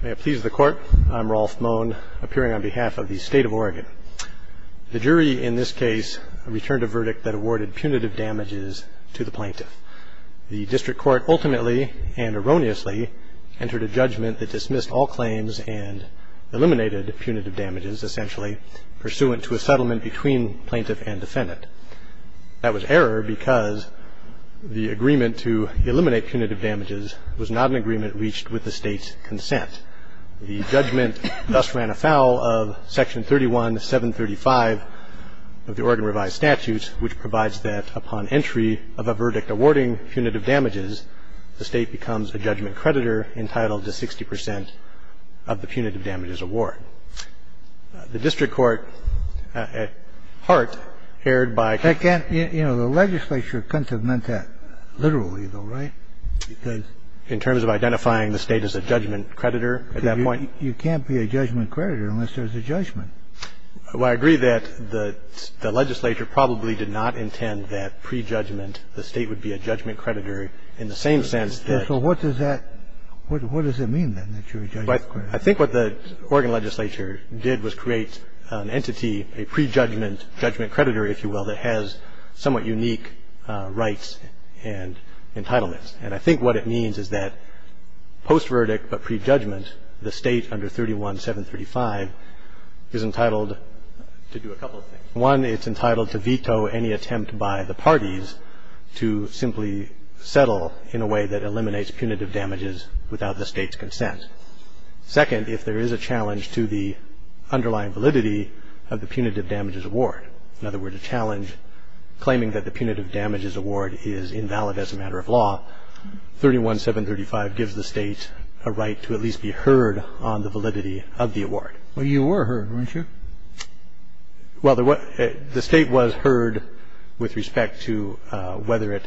May it please the Court, I'm Rolf Moen, appearing on behalf of the State of Oregon. The jury in this case returned a verdict that awarded punitive damages to the plaintiff. The district court ultimately and erroneously entered a judgment that dismissed all claims and settlement between plaintiff and defendant. That was error because the agreement to eliminate punitive damages was not an agreement reached with the State's consent. The judgment thus ran afoul of Section 31735 of the Oregon Revised Statute, which provides that upon entry of a verdict awarding punitive damages, the State becomes a judgment creditor entitled to 60 percent of the punitive damages award. The district court, at heart, erred by The legislature couldn't have meant that literally though, right? In terms of identifying the State as a judgment creditor at that point? You can't be a judgment creditor unless there's a judgment. Well, I agree that the legislature probably did not intend that pre-judgment the State would be a judgment creditor in the same sense that So what does that, what does it mean then that you're a judgment creditor? I think what the Oregon legislature did was create an entity, a pre-judgment judgment creditor, if you will, that has somewhat unique rights and entitlements. And I think what it means is that post-verdict but pre-judgment, the State under 31735 is entitled to do a couple of things. One, it's entitled to veto any attempt by the parties to simply settle in a way that eliminates punitive damages without the State's consent. Second, if there is a challenge to the underlying validity of the punitive damages award, in other words, a challenge claiming that the punitive damages award is invalid as a matter of law, 31735 gives the State a right to at least be heard on the validity of the award. Well, you were heard, weren't you? Well, the State was heard with respect to whether it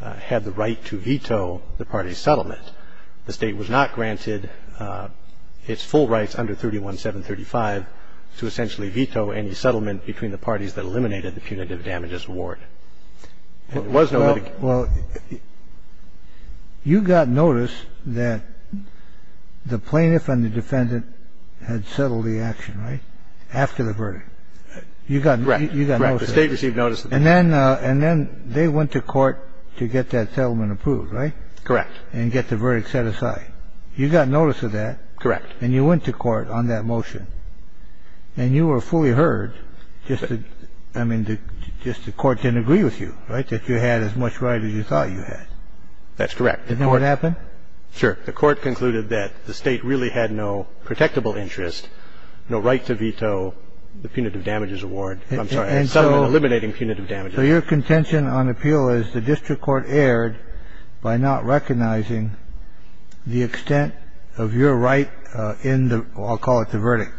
had the right to veto the parties' settlement. The State was not granted its full rights under 31735 to essentially veto any settlement between the parties that eliminated the punitive damages award. It was no other case. Well, you got notice that the plaintiff and the defendant had settled the action, right, after the verdict. You got notice of that. Correct. The State received notice of that. And then they went to court to get that settlement approved, right? Correct. And get the verdict set aside. You got notice of that. Correct. And you went to court on that motion. And you were fully heard. I mean, just the Court didn't agree with you, right, that you had as much right as you thought you had. That's correct. Didn't know what happened? Sure. The Court concluded that the State really had no protectable interest, no right to veto the punitive damages award. I'm sorry, the settlement eliminating punitive damages. So your contention on appeal is the district court erred by not recognizing the extent of your right in the – I'll call it the verdict.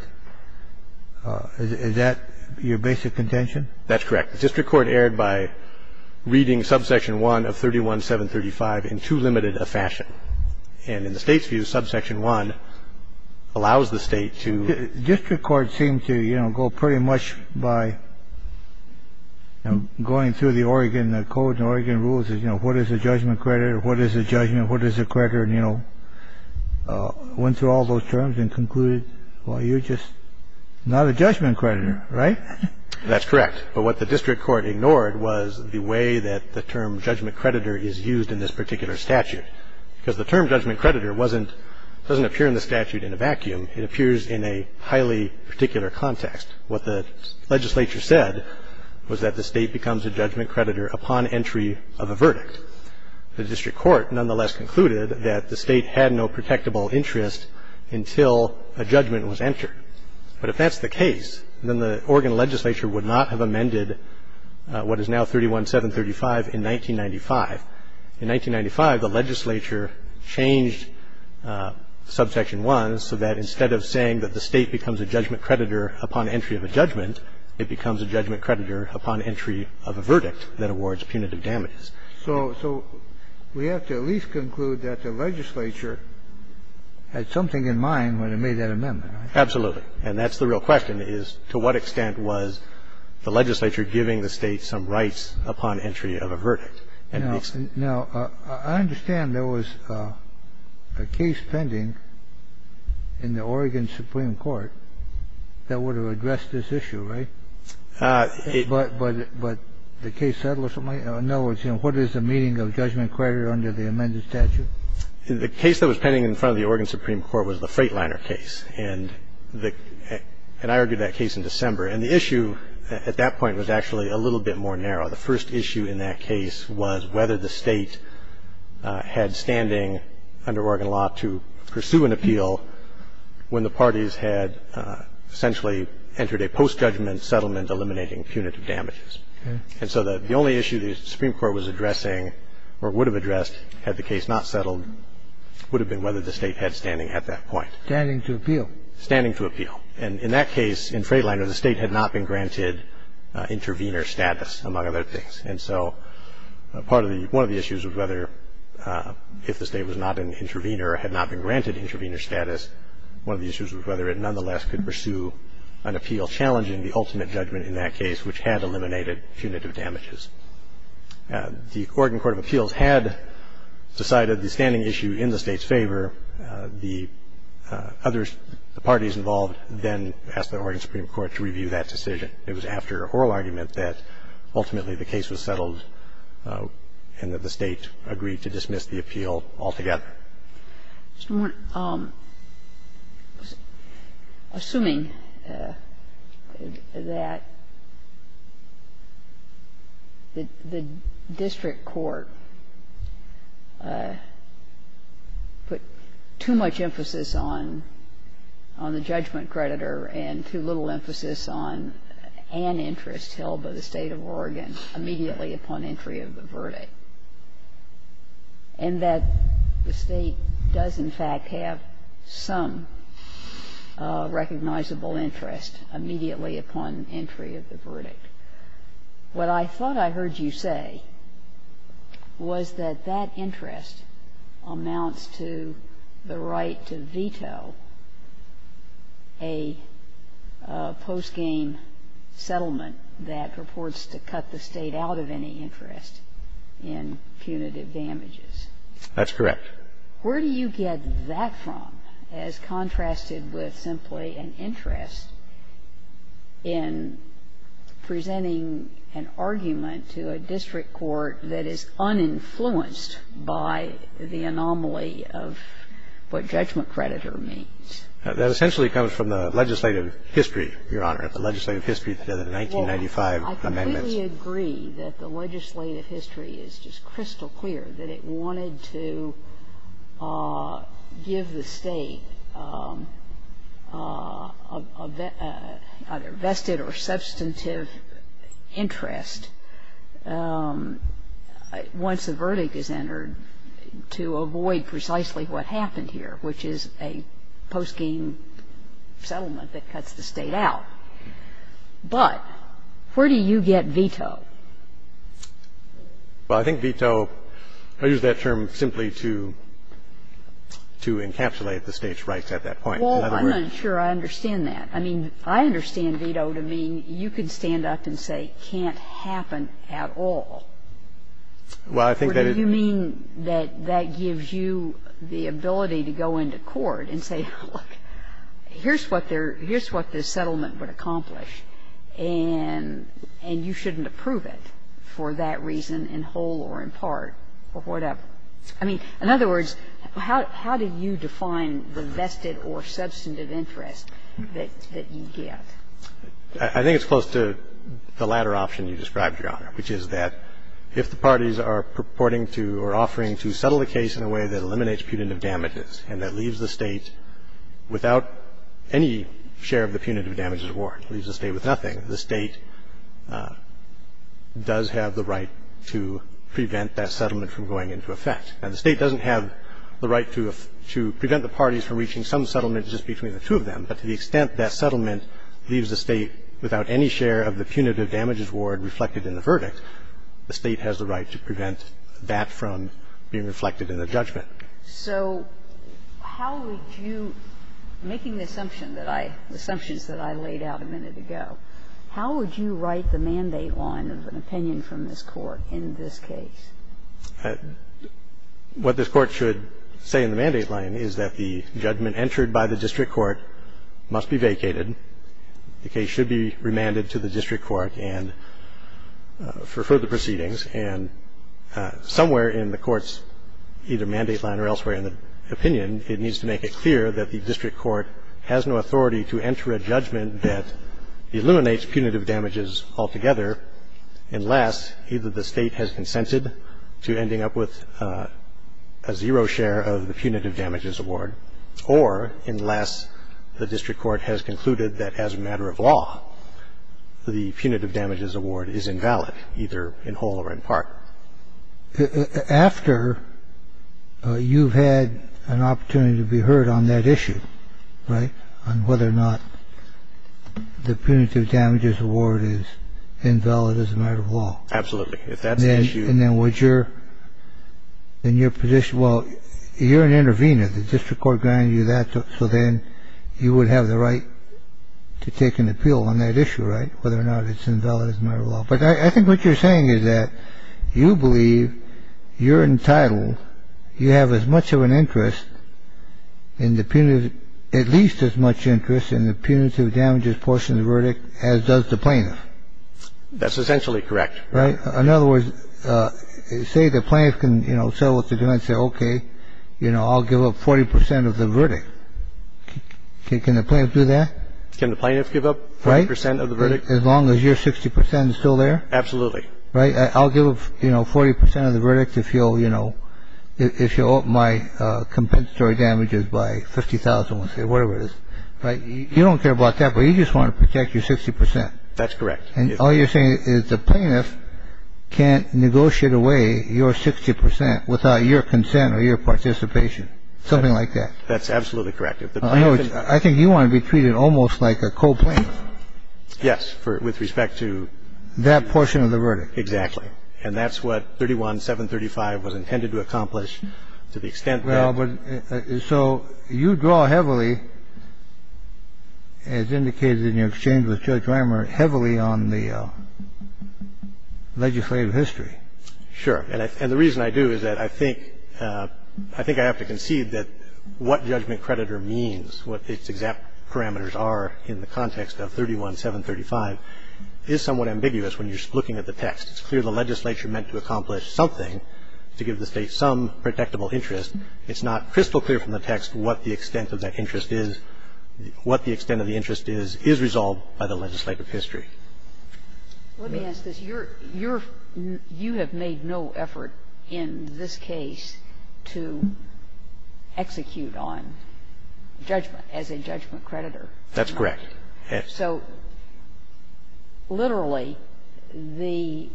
Is that your basic contention? That's correct. The district court erred by reading subsection 1 of 31735 in too limited a fashion. And in the State's view, subsection 1 allows the State to – The district court seemed to, you know, go pretty much by going through the Oregon code and Oregon rules, you know, what is a judgment creditor, what is a judgment, what is a creditor, and, you know, went through all those terms and concluded, well, you're just not a judgment creditor, right? That's correct. But what the district court ignored was the way that the term judgment creditor is used in this particular statute. Because the term judgment creditor wasn't – doesn't appear in the statute in a vacuum. It appears in a highly particular context. What the legislature said was that the State becomes a judgment creditor upon entry of a verdict. The district court nonetheless concluded that the State had no protectable interest until a judgment was entered. But if that's the case, then the Oregon legislature would not have amended what is now 31735 in 1995. In 1995, the legislature changed subsection 1 so that instead of saying that the State becomes a judgment creditor upon entry of a judgment, it becomes a judgment creditor upon entry of a verdict that awards punitive damages. So we have to at least conclude that the legislature had something in mind when it made that amendment, right? Absolutely. And that's the real question, is to what extent was the legislature giving the State some rights upon entry of a verdict? Now, I understand there was a case pending in the Oregon Supreme Court that would have addressed this issue, right? But the case settled or something? In other words, what is the meaning of judgment creditor under the amended statute? The case that was pending in front of the Oregon Supreme Court was the Freightliner case. And I argued that case in December. And the issue at that point was actually a little bit more narrow. The first issue in that case was whether the State had standing under Oregon law to pursue an appeal when the parties had essentially entered a post-judgment settlement eliminating punitive damages. And so the only issue the Supreme Court was addressing or would have addressed had the case not settled would have been whether the State had standing at that point. Standing to appeal. Standing to appeal. And in that case, in Freightliner, the State had not been granted intervener status, among other things. And so part of the – one of the issues was whether if the State was not an intervener or had not been granted intervener status, one of the issues was whether it nonetheless could pursue an appeal challenging the ultimate judgment in that case, which had eliminated punitive damages. The Oregon Court of Appeals had decided the standing issue in the State's favor. And the third issue was whether the other parties involved then asked the Oregon Supreme Court to review that decision. It was after oral argument that ultimately the case was settled and that the State agreed to dismiss the appeal altogether. Ginsburg. Assuming that the district court put too much emphasis on the judgment creditor and too little emphasis on an interest held by the State of Oregon immediately upon entry of the verdict, and that the State does, in fact, have some recognizable interest immediately upon entry of the verdict, what I thought I heard you say was that that interest amounts to the right to veto a post-game settlement that purports to cut the State out of any interest in punitive damages. That's correct. Where do you get that from as contrasted with simply an interest in presenting an argument to a district court that is uninfluenced by the anomaly of what judgment creditor means? That essentially comes from the legislative history, Your Honor, the legislative history of the 1995 amendments. Well, I completely agree that the legislative history is just crystal clear, that it wanted to give the State a vested or substantive interest once a verdict is entered to avoid precisely what happened here, which is a post-game settlement that cuts the State out. But where do you get veto? Well, I think veto, I use that term simply to encapsulate the State's rights at that point. Well, I'm not sure I understand that. I mean, I understand veto to mean you can stand up and say can't happen at all. Well, I think that it's What do you mean that that gives you the ability to go into court and say, look, here's what this settlement would accomplish, and you shouldn't approve it for that reason in whole or in part or whatever? I mean, in other words, how do you define the vested or substantive interest that you get? I think it's close to the latter option you described, Your Honor, which is that if the parties are purporting to or offering to settle the case in a way that eliminates punitive damages and that leaves the State without any share of the punitive damages award, leaves the State with nothing, the State does have the right to prevent that settlement from going into effect. Now, the State doesn't have the right to prevent the parties from reaching some settlement just between the two of them, but to the extent that settlement leaves the State without any share of the punitive damages award reflected in the verdict, the State has the right to prevent that from being reflected in the judgment. So how would you, making the assumption that I – the assumptions that I laid out a minute ago, how would you write the mandate line of an opinion from this Court in this case? What this Court should say in the mandate line is that the judgment entered by the district court must be vacated. The case should be remanded to the district court and – for further proceedings. And somewhere in the Court's either mandate line or elsewhere in the opinion, it needs to make it clear that the district court has no authority to enter a judgment that eliminates punitive damages altogether unless either the State has consented to ending up with a zero share of the punitive damages award or unless the district court has concluded that as a matter of law the punitive damages award is invalid, either in whole or in part. After you've had an opportunity to be heard on that issue, right, on whether or not the punitive damages award is invalid as a matter of law. Absolutely. If that's the issue – And then would your – in your position – well, you're an intervener. If the district court granted you that, so then you would have the right to take an appeal on that issue, right, whether or not it's invalid as a matter of law. But I think what you're saying is that you believe you're entitled, you have as much of an interest in the punitive – at least as much interest in the punitive damages portion of the verdict as does the plaintiff. That's essentially correct. Right? In other words, say the plaintiff can, you know, settle with the defense and say, okay, you know, I'll give up 40 percent of the verdict. Can the plaintiff do that? Can the plaintiff give up 40 percent of the verdict? As long as your 60 percent is still there? Absolutely. Right? I'll give, you know, 40 percent of the verdict if you'll, you know, if you'll open my compensatory damages by $50,000 or whatever it is. You don't care about that, but you just want to protect your 60 percent. That's correct. And all you're saying is the plaintiff can't negotiate away your 60 percent without your consent or your participation, something like that. That's absolutely correct. I think you want to be treated almost like a co-plaintiff. Yes, with respect to – That portion of the verdict. Exactly. And that's what 31735 was intended to accomplish to the extent that – So you draw heavily, as indicated in your exchange with Judge Reimer, heavily on the legislative history. Sure. And the reason I do is that I think – I think I have to concede that what judgment creditor means, what its exact parameters are in the context of 31735, is somewhat ambiguous when you're looking at the text. It's clear the legislature meant to accomplish something to give the State some protectable interest. It's not crystal clear from the text what the extent of that interest is. What the extent of the interest is is resolved by the legislative history. Let me ask this. You're – you have made no effort in this case to execute on judgment as a judgment creditor. That's correct. So literally, the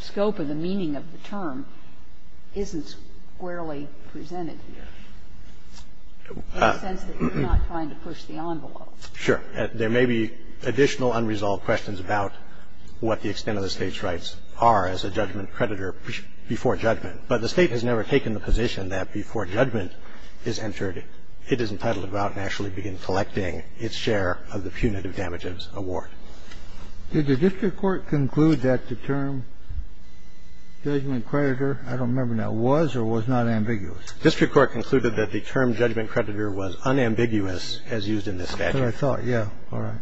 scope of the meaning of the term isn't squarely presented here, in the sense that you're not trying to push the envelope. Sure. There may be additional unresolved questions about what the extent of the State's rights are as a judgment creditor before judgment, but the State has never taken the position that before judgment is entered, it is entitled to go out and actually begin collecting its share of the punitive damages award. Did the district court conclude that the term judgment creditor – I don't remember now – was or was not ambiguous? District court concluded that the term judgment creditor was unambiguous as used in this statute. That's what I thought. Yeah. All right.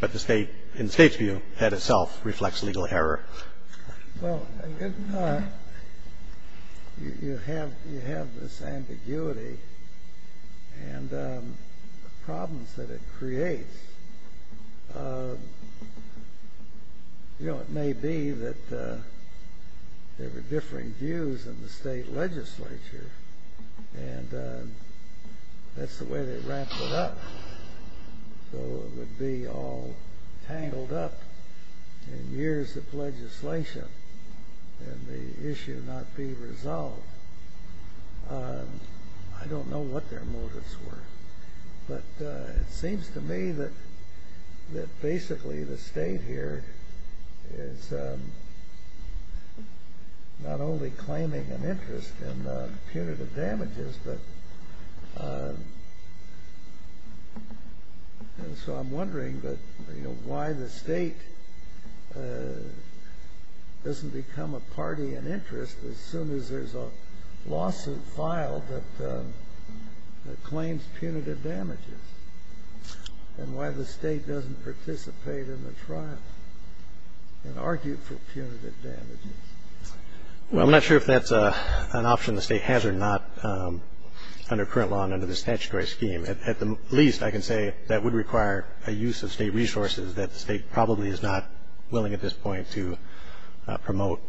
But the State – in the State's view, that itself reflects legal error. Well, you have this ambiguity and the problems that it creates. You know, it may be that there were differing views in the State legislature, and that's the way they ramped it up. So it would be all tangled up in years of legislation and the issue not being resolved. I don't know what their motives were. But it seems to me that basically the State here is not only claiming an interest in punitive damages, so I'm wondering why the State doesn't become a party in interest as soon as there's a lawsuit filed that claims punitive damages, and why the State doesn't participate in the trial and argue for punitive damages. Well, I'm not sure if that's an option the State has or not under current law and under the statutory scheme. At the least, I can say that would require a use of State resources that the State probably is not willing at this point to promote.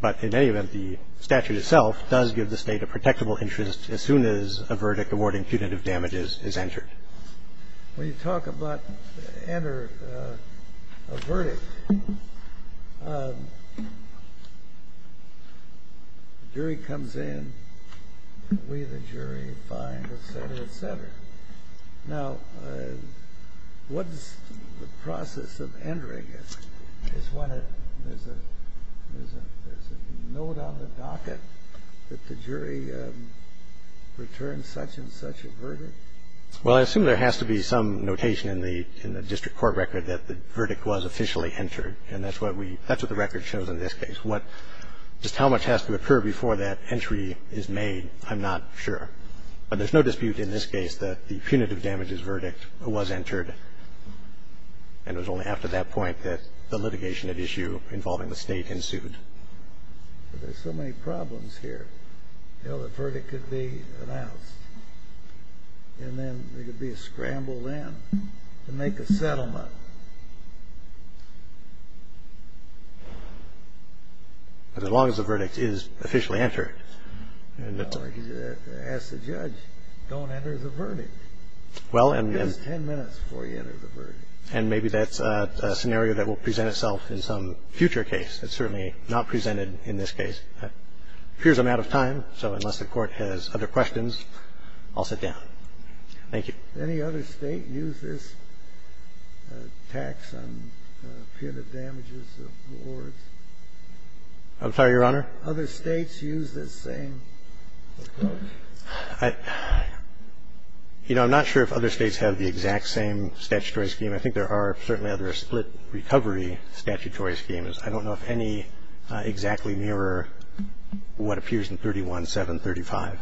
But in any event, the statute itself does give the State a protectable interest as soon as a verdict awarding punitive damages is entered. When you talk about enter a verdict, the jury comes in, and we the jury find, et cetera, et cetera. Now, what is the process of entering it? Is there a note on the docket that the jury returns such and such a verdict? Well, I assume there has to be some notation in the district court record that the verdict was officially entered, and that's what the record shows in this case. Just how much has to occur before that entry is made, I'm not sure. But there's no dispute in this case that the punitive damages verdict was entered, and it was only after that point that the litigation at issue involving the State ensued. But there's so many problems here. You know, the verdict could be announced, and then there could be a scramble then to make a settlement. As long as the verdict is officially entered. Ask the judge, don't enter the verdict. And maybe that's a scenario that will present itself in some future case. It's certainly not presented in this case. It appears I'm out of time, so unless the Court has other questions, I'll sit down. Thank you. Any other State use this tax on punitive damages awards? I'm sorry, Your Honor? Other States use this same? You know, I'm not sure if other States have the exact same statutory scheme. I think there are certainly other split recovery statutory schemes. I don't know if any exactly mirror what appears in 31735.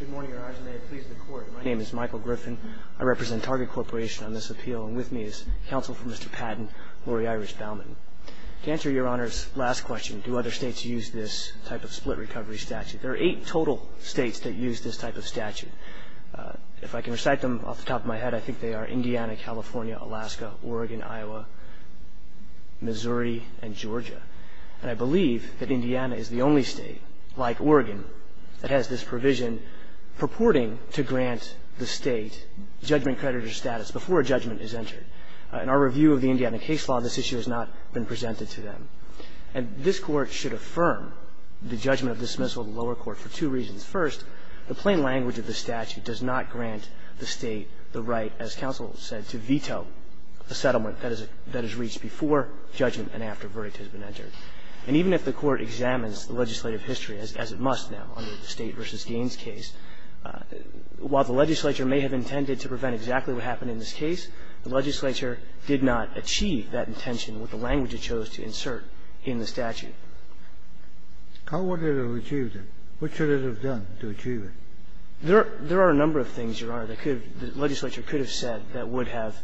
Good morning, Your Honor. May it please the Court. My name is Michael Griffin. I represent Target Corporation on this appeal, and with me is counsel for Mr. Patton, Laurie Irish Baumann. To answer Your Honor's last question, do other States use this type of split recovery statute, there are eight total States that use this type of statute. If I can recite them off the top of my head, I think they are Indiana, California, Alaska, Oregon, Iowa, Missouri, and Georgia. And I believe that Indiana is the only State, like Oregon, that has this provision purporting to grant the State judgment creditor status before a judgment is entered. In our review of the Indiana case law, this issue has not been presented to them. And this Court should affirm the judgment of dismissal of the lower court for two reasons. First, the plain language of the statute does not grant the State the right, as counsel said, to veto a settlement that is reached before judgment and after verdict has been entered. And even if the Court examines the legislative history, as it must now under the State v. Gaines case, while the legislature may have intended to prevent exactly what happened in this case, the legislature did not achieve that intention with the language it chose to insert in the statute. How would it have achieved it? What should it have done to achieve it? There are a number of things, Your Honor, that could have been the legislature could have said that would have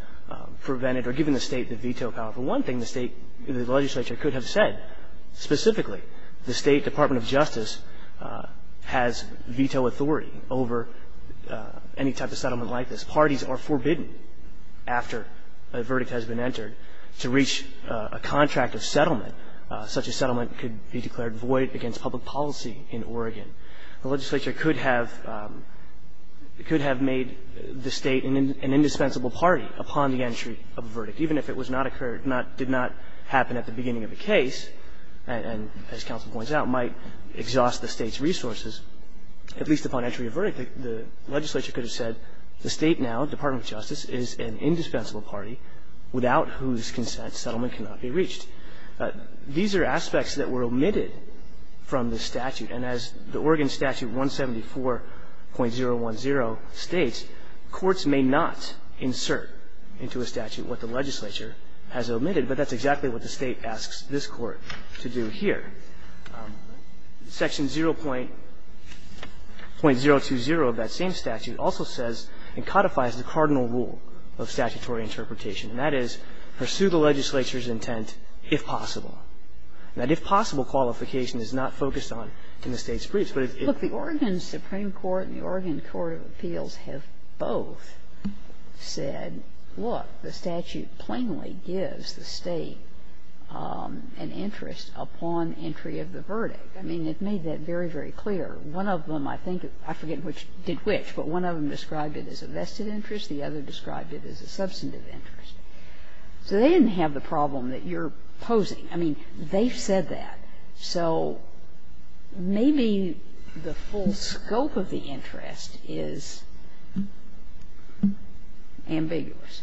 prevented or given the State the veto power. For one thing, the State, the legislature could have said specifically the State Department of Justice has veto authority over any type of settlement like this. Parties are forbidden after a verdict has been entered to reach a contract of settlement. Such a settlement could be declared void against public policy in Oregon. The legislature could have made the State an indispensable party upon the entry of a verdict, which did not happen at the beginning of the case and, as counsel points out, might exhaust the State's resources. At least upon entry of verdict, the legislature could have said the State now, Department of Justice, is an indispensable party without whose consent settlement cannot be reached. These are aspects that were omitted from the statute. And as the Oregon Statute 174.010 states, courts may not insert into a statute what the legislature has omitted. But that's exactly what the State asks this Court to do here. Section 0.020 of that same statute also says and codifies the cardinal rule of statutory interpretation, and that is pursue the legislature's intent if possible. That if possible qualification is not focused on in the State's briefs. But if it's the Oregon Supreme Court and the Oregon Court of Appeals have both said, look, the statute plainly gives the State an interest upon entry of the verdict. I mean, it made that very, very clear. One of them, I think, I forget which did which, but one of them described it as a vested interest, the other described it as a substantive interest. So they didn't have the problem that you're posing. I mean, they've said that. So maybe the full scope of the interest is ambiguous.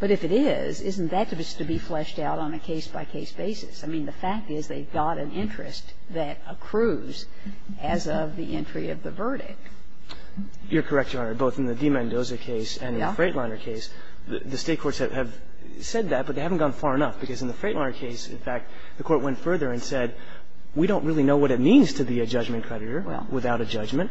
But if it is, isn't that just to be fleshed out on a case-by-case basis? I mean, the fact is they've got an interest that accrues as of the entry of the verdict. You're correct, Your Honor, both in the DiMendoza case and in the Freightliner case. The State courts have said that, but they haven't gone far enough, because in the DiMendoza case, in fact, the Court went further and said, we don't really know what it means to be a judgment creditor without a judgment.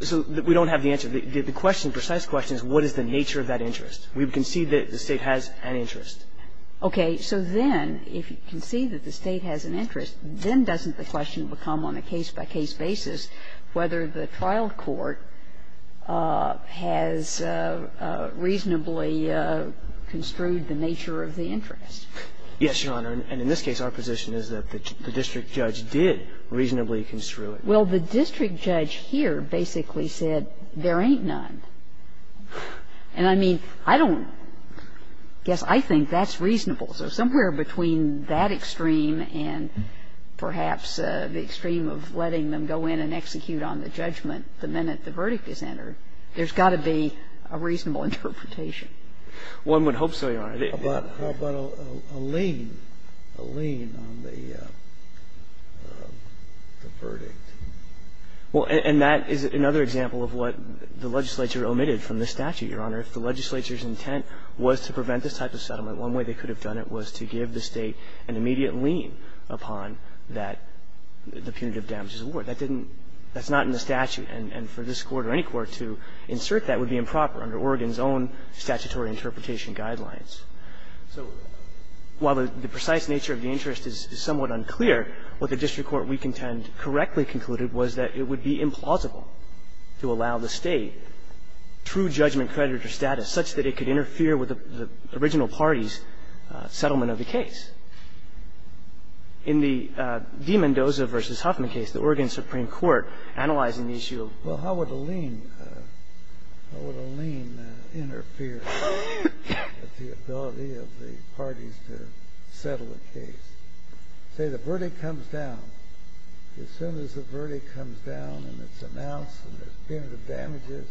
So we don't have the answer. The question, precise question, is what is the nature of that interest? We concede that the State has an interest. Okay. So then, if you concede that the State has an interest, then doesn't the question become on a case-by-case basis whether the trial court has reasonably construed the nature of the interest? Yes, Your Honor. And in this case, our position is that the district judge did reasonably construe it. Well, the district judge here basically said there ain't none. And, I mean, I don't guess I think that's reasonable. So somewhere between that extreme and perhaps the extreme of letting them go in and execute on the judgment the minute the verdict is entered, there's got to be a reasonable interpretation. One would hope so, Your Honor. How about a lien, a lien on the verdict? Well, and that is another example of what the legislature omitted from this statute, Your Honor. If the legislature's intent was to prevent this type of settlement, one way they could have done it was to give the State an immediate lien upon that, the punitive damages award. That didn't – that's not in the statute. And for this Court or any court to insert that would be improper under Oregon's own statutory interpretation guidelines. So while the precise nature of the interest is somewhat unclear, what the district court we contend correctly concluded was that it would be implausible to allow the State true judgment creditor status such that it could interfere with the original party's settlement of the case. In the DiMendoza v. Huffman case, the Oregon Supreme Court, analyzing the issue of the verdict, said, well, how would a lien, how would a lien interfere with the ability of the parties to settle a case? Say the verdict comes down. As soon as the verdict comes down and it's announced and there's punitive damages,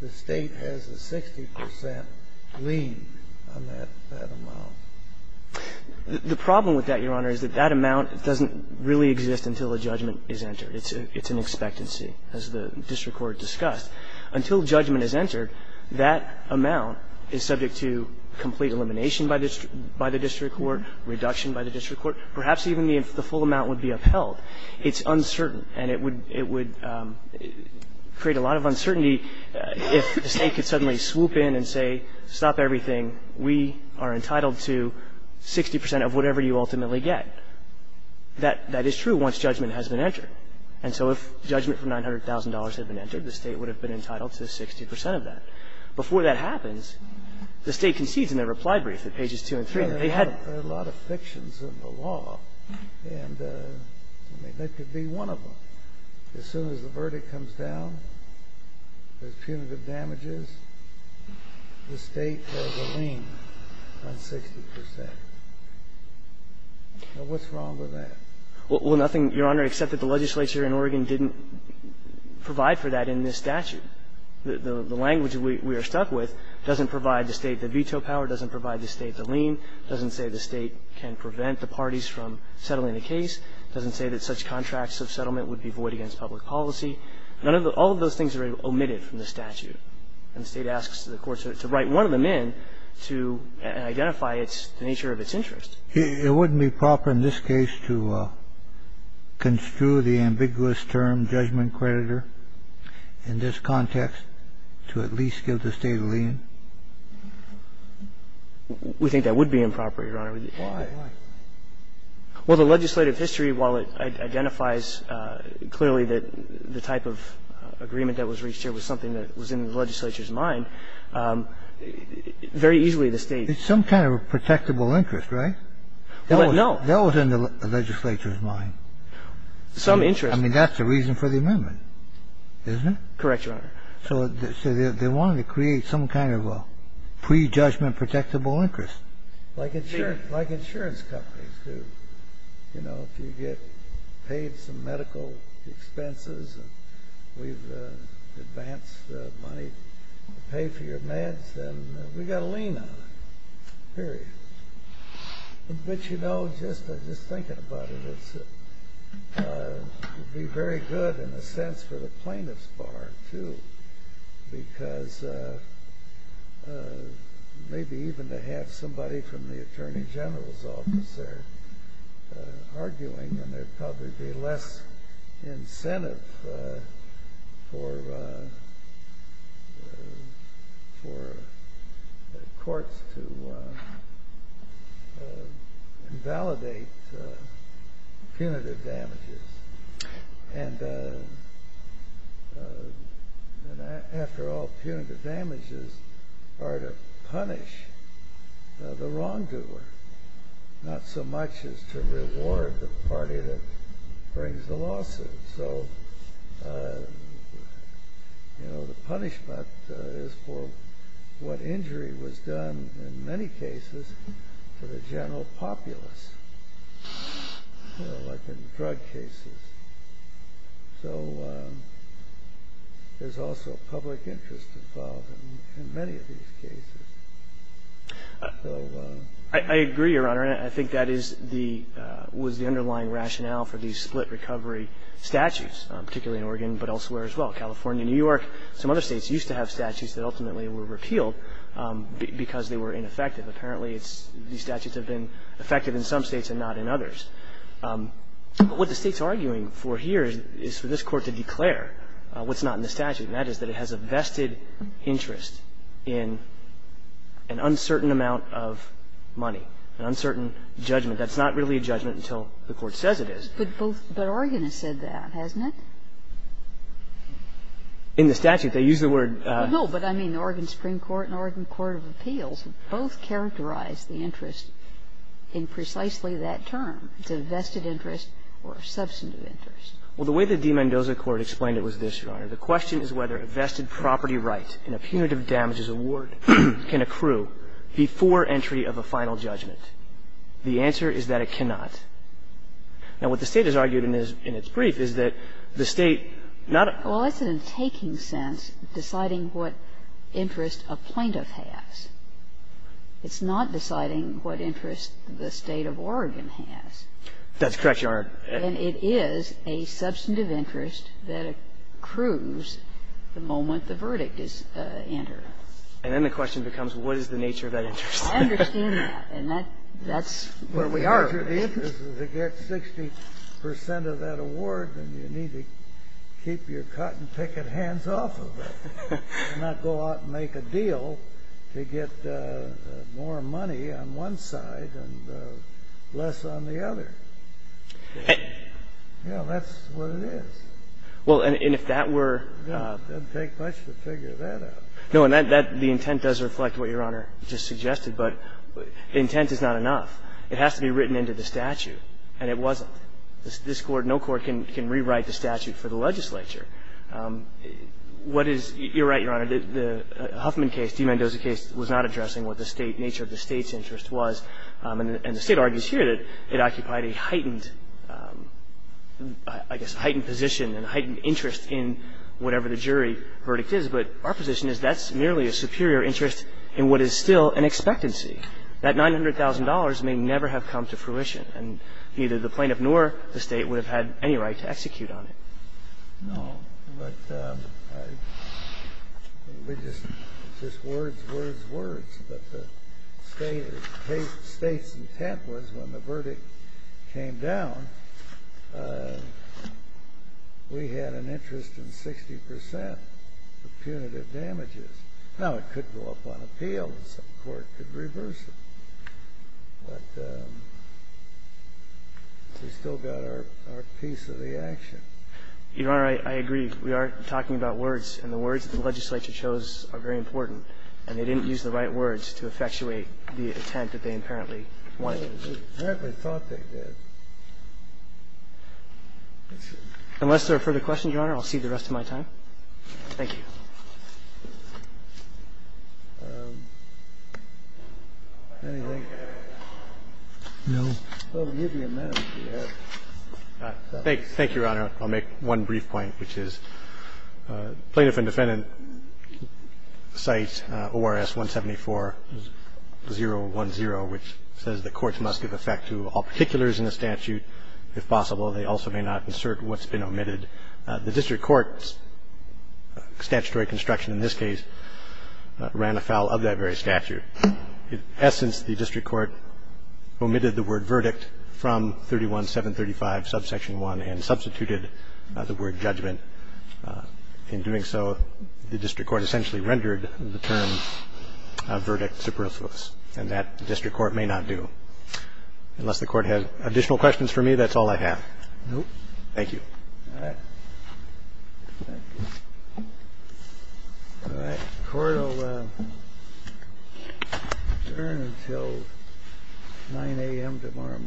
the State has a 60 percent lien on that amount. The problem with that, Your Honor, is that that amount doesn't really exist until a judgment is entered. It's an expectancy, as the district court discussed. Until judgment is entered, that amount is subject to complete elimination by the district court, reduction by the district court, perhaps even if the full amount would be upheld. It's uncertain. And it would create a lot of uncertainty if the State could suddenly swoop in and say, stop everything, we are entitled to 60 percent of whatever you ultimately get. That is true once judgment has been entered. And so if judgment for $900,000 had been entered, the State would have been entitled to 60 percent of that. Before that happens, the State concedes in their reply brief at pages 2 and 3. They had to be one of them. As soon as the verdict comes down, there's punitive damages, the State has a lien on 60 percent. Now, what's wrong with that? Well, nothing, Your Honor, except that the legislature in Oregon didn't provide for that in this statute. The language we are stuck with doesn't provide the State the veto power, doesn't provide the State the lien, doesn't say the State can prevent the parties from settling the case, doesn't say that such contracts of settlement would be void against public policy. None of the – all of those things are omitted from the statute. And the State asks the courts to write one of them in to identify its – the nature of its interest. It wouldn't be proper in this case to construe the ambiguous term judgment creditor in this context to at least give the State a lien? We think that would be improper, Your Honor. Why? Why? Well, the legislative history, while it identifies clearly that the type of agreement that was reached here was something that was in the legislature's mind, very easily the State – It's some kind of a protectable interest, right? Well, no. That was in the legislature's mind. Some interest. I mean, that's the reason for the amendment, isn't it? Correct, Your Honor. So they wanted to create some kind of a prejudgment protectable interest. Like insurance companies do. You know, if you get paid some medical expenses and we've advanced the money to pay for your meds, then we've got a lien on it, period. But, you know, just thinking about it, it would be very good, in a sense, for the plaintiff's bar, too, because maybe even to have somebody from the Attorney General's office there invalidate punitive damages. And, after all, punitive damages are to punish the wrongdoer, not so much as to reward the wrongdoer. So, you know, the punishment is for what injury was done, in many cases, for the general populace, you know, like in drug cases. So there's also public interest involved in many of these cases. I agree, Your Honor, and I think that was the underlying rationale for these split recovery statutes, particularly in Oregon, but elsewhere as well. California, New York, some other states used to have statutes that ultimately were repealed because they were ineffective. Apparently these statutes have been effective in some states and not in others. But what the State's arguing for here is for this Court to declare what's not in the statute, and that is that it has a vested interest in an uncertain amount of money, an uncertain judgment that's not really a judgment until the Court says it is. But both – but Oregon has said that, hasn't it? In the statute. They use the word – No, but I mean, the Oregon Supreme Court and Oregon Court of Appeals both characterize the interest in precisely that term. It's a vested interest or a substantive interest. The question is whether a vested property right in a punitive damages award can accrue before entry of a final judgment. The answer is that it cannot. Now, what the State has argued in its brief is that the State not – Well, that's in a taking sense deciding what interest a plaintiff has. It's not deciding what interest the State of Oregon has. That's correct, Your Honor. And it is a substantive interest that accrues the moment the verdict is entered. And then the question becomes, what is the nature of that interest? I understand that. And that's where we are. If the interest is to get 60 percent of that award, then you need to keep your cotton-picket hands off of it and not go out and make a deal to get more money on one side and less on the other. Yeah, that's what it is. Well, and if that were – It doesn't take much to figure that out. No, and that – the intent does reflect what Your Honor just suggested, but the intent is not enough. It has to be written into the statute, and it wasn't. This Court – no court can rewrite the statute for the legislature. What is – you're right, Your Honor. The Huffman case, D. Mendoza case, was not addressing what the State – nature of the State's interest was. And the State argues here that it occupied a heightened – I guess heightened position and heightened interest in whatever the jury verdict is. But our position is that's merely a superior interest in what is still an expectancy. That $900,000 may never have come to fruition, and neither the plaintiff nor the State would have had any right to execute on it. No, but we just – just words, words, words. But the State's intent was, when the verdict came down, we had an interest in 60 percent for punitive damages. Now, it could go up on appeal, and some court could reverse it. But we've still got our piece of the action. Your Honor, I agree. We are talking about words, and the words that the legislature chose are very important. And they didn't use the right words to effectuate the intent that they apparently wanted. They apparently thought they did. Unless there are further questions, Your Honor, I'll cede the rest of my time. Thank you. Anything? No. Well, we'll give you a minute. Thank you, Your Honor. I'll make one brief point, which is plaintiff and defendant cite ORS 174-010, which says the courts must give effect to all particulars in the statute. If possible, they also may not insert what's been omitted. The district court's statutory construction in this case ran afoul of that very statute. In essence, the district court omitted the word verdict from 31735, subsection 1, and substituted the word judgment. In doing so, the district court essentially rendered the term verdict superfluous, and that the district court may not do. Unless the court has additional questions for me, that's all I have. No. Thank you. All right. Thank you. All right. Court will adjourn until 9 a.m. tomorrow morning.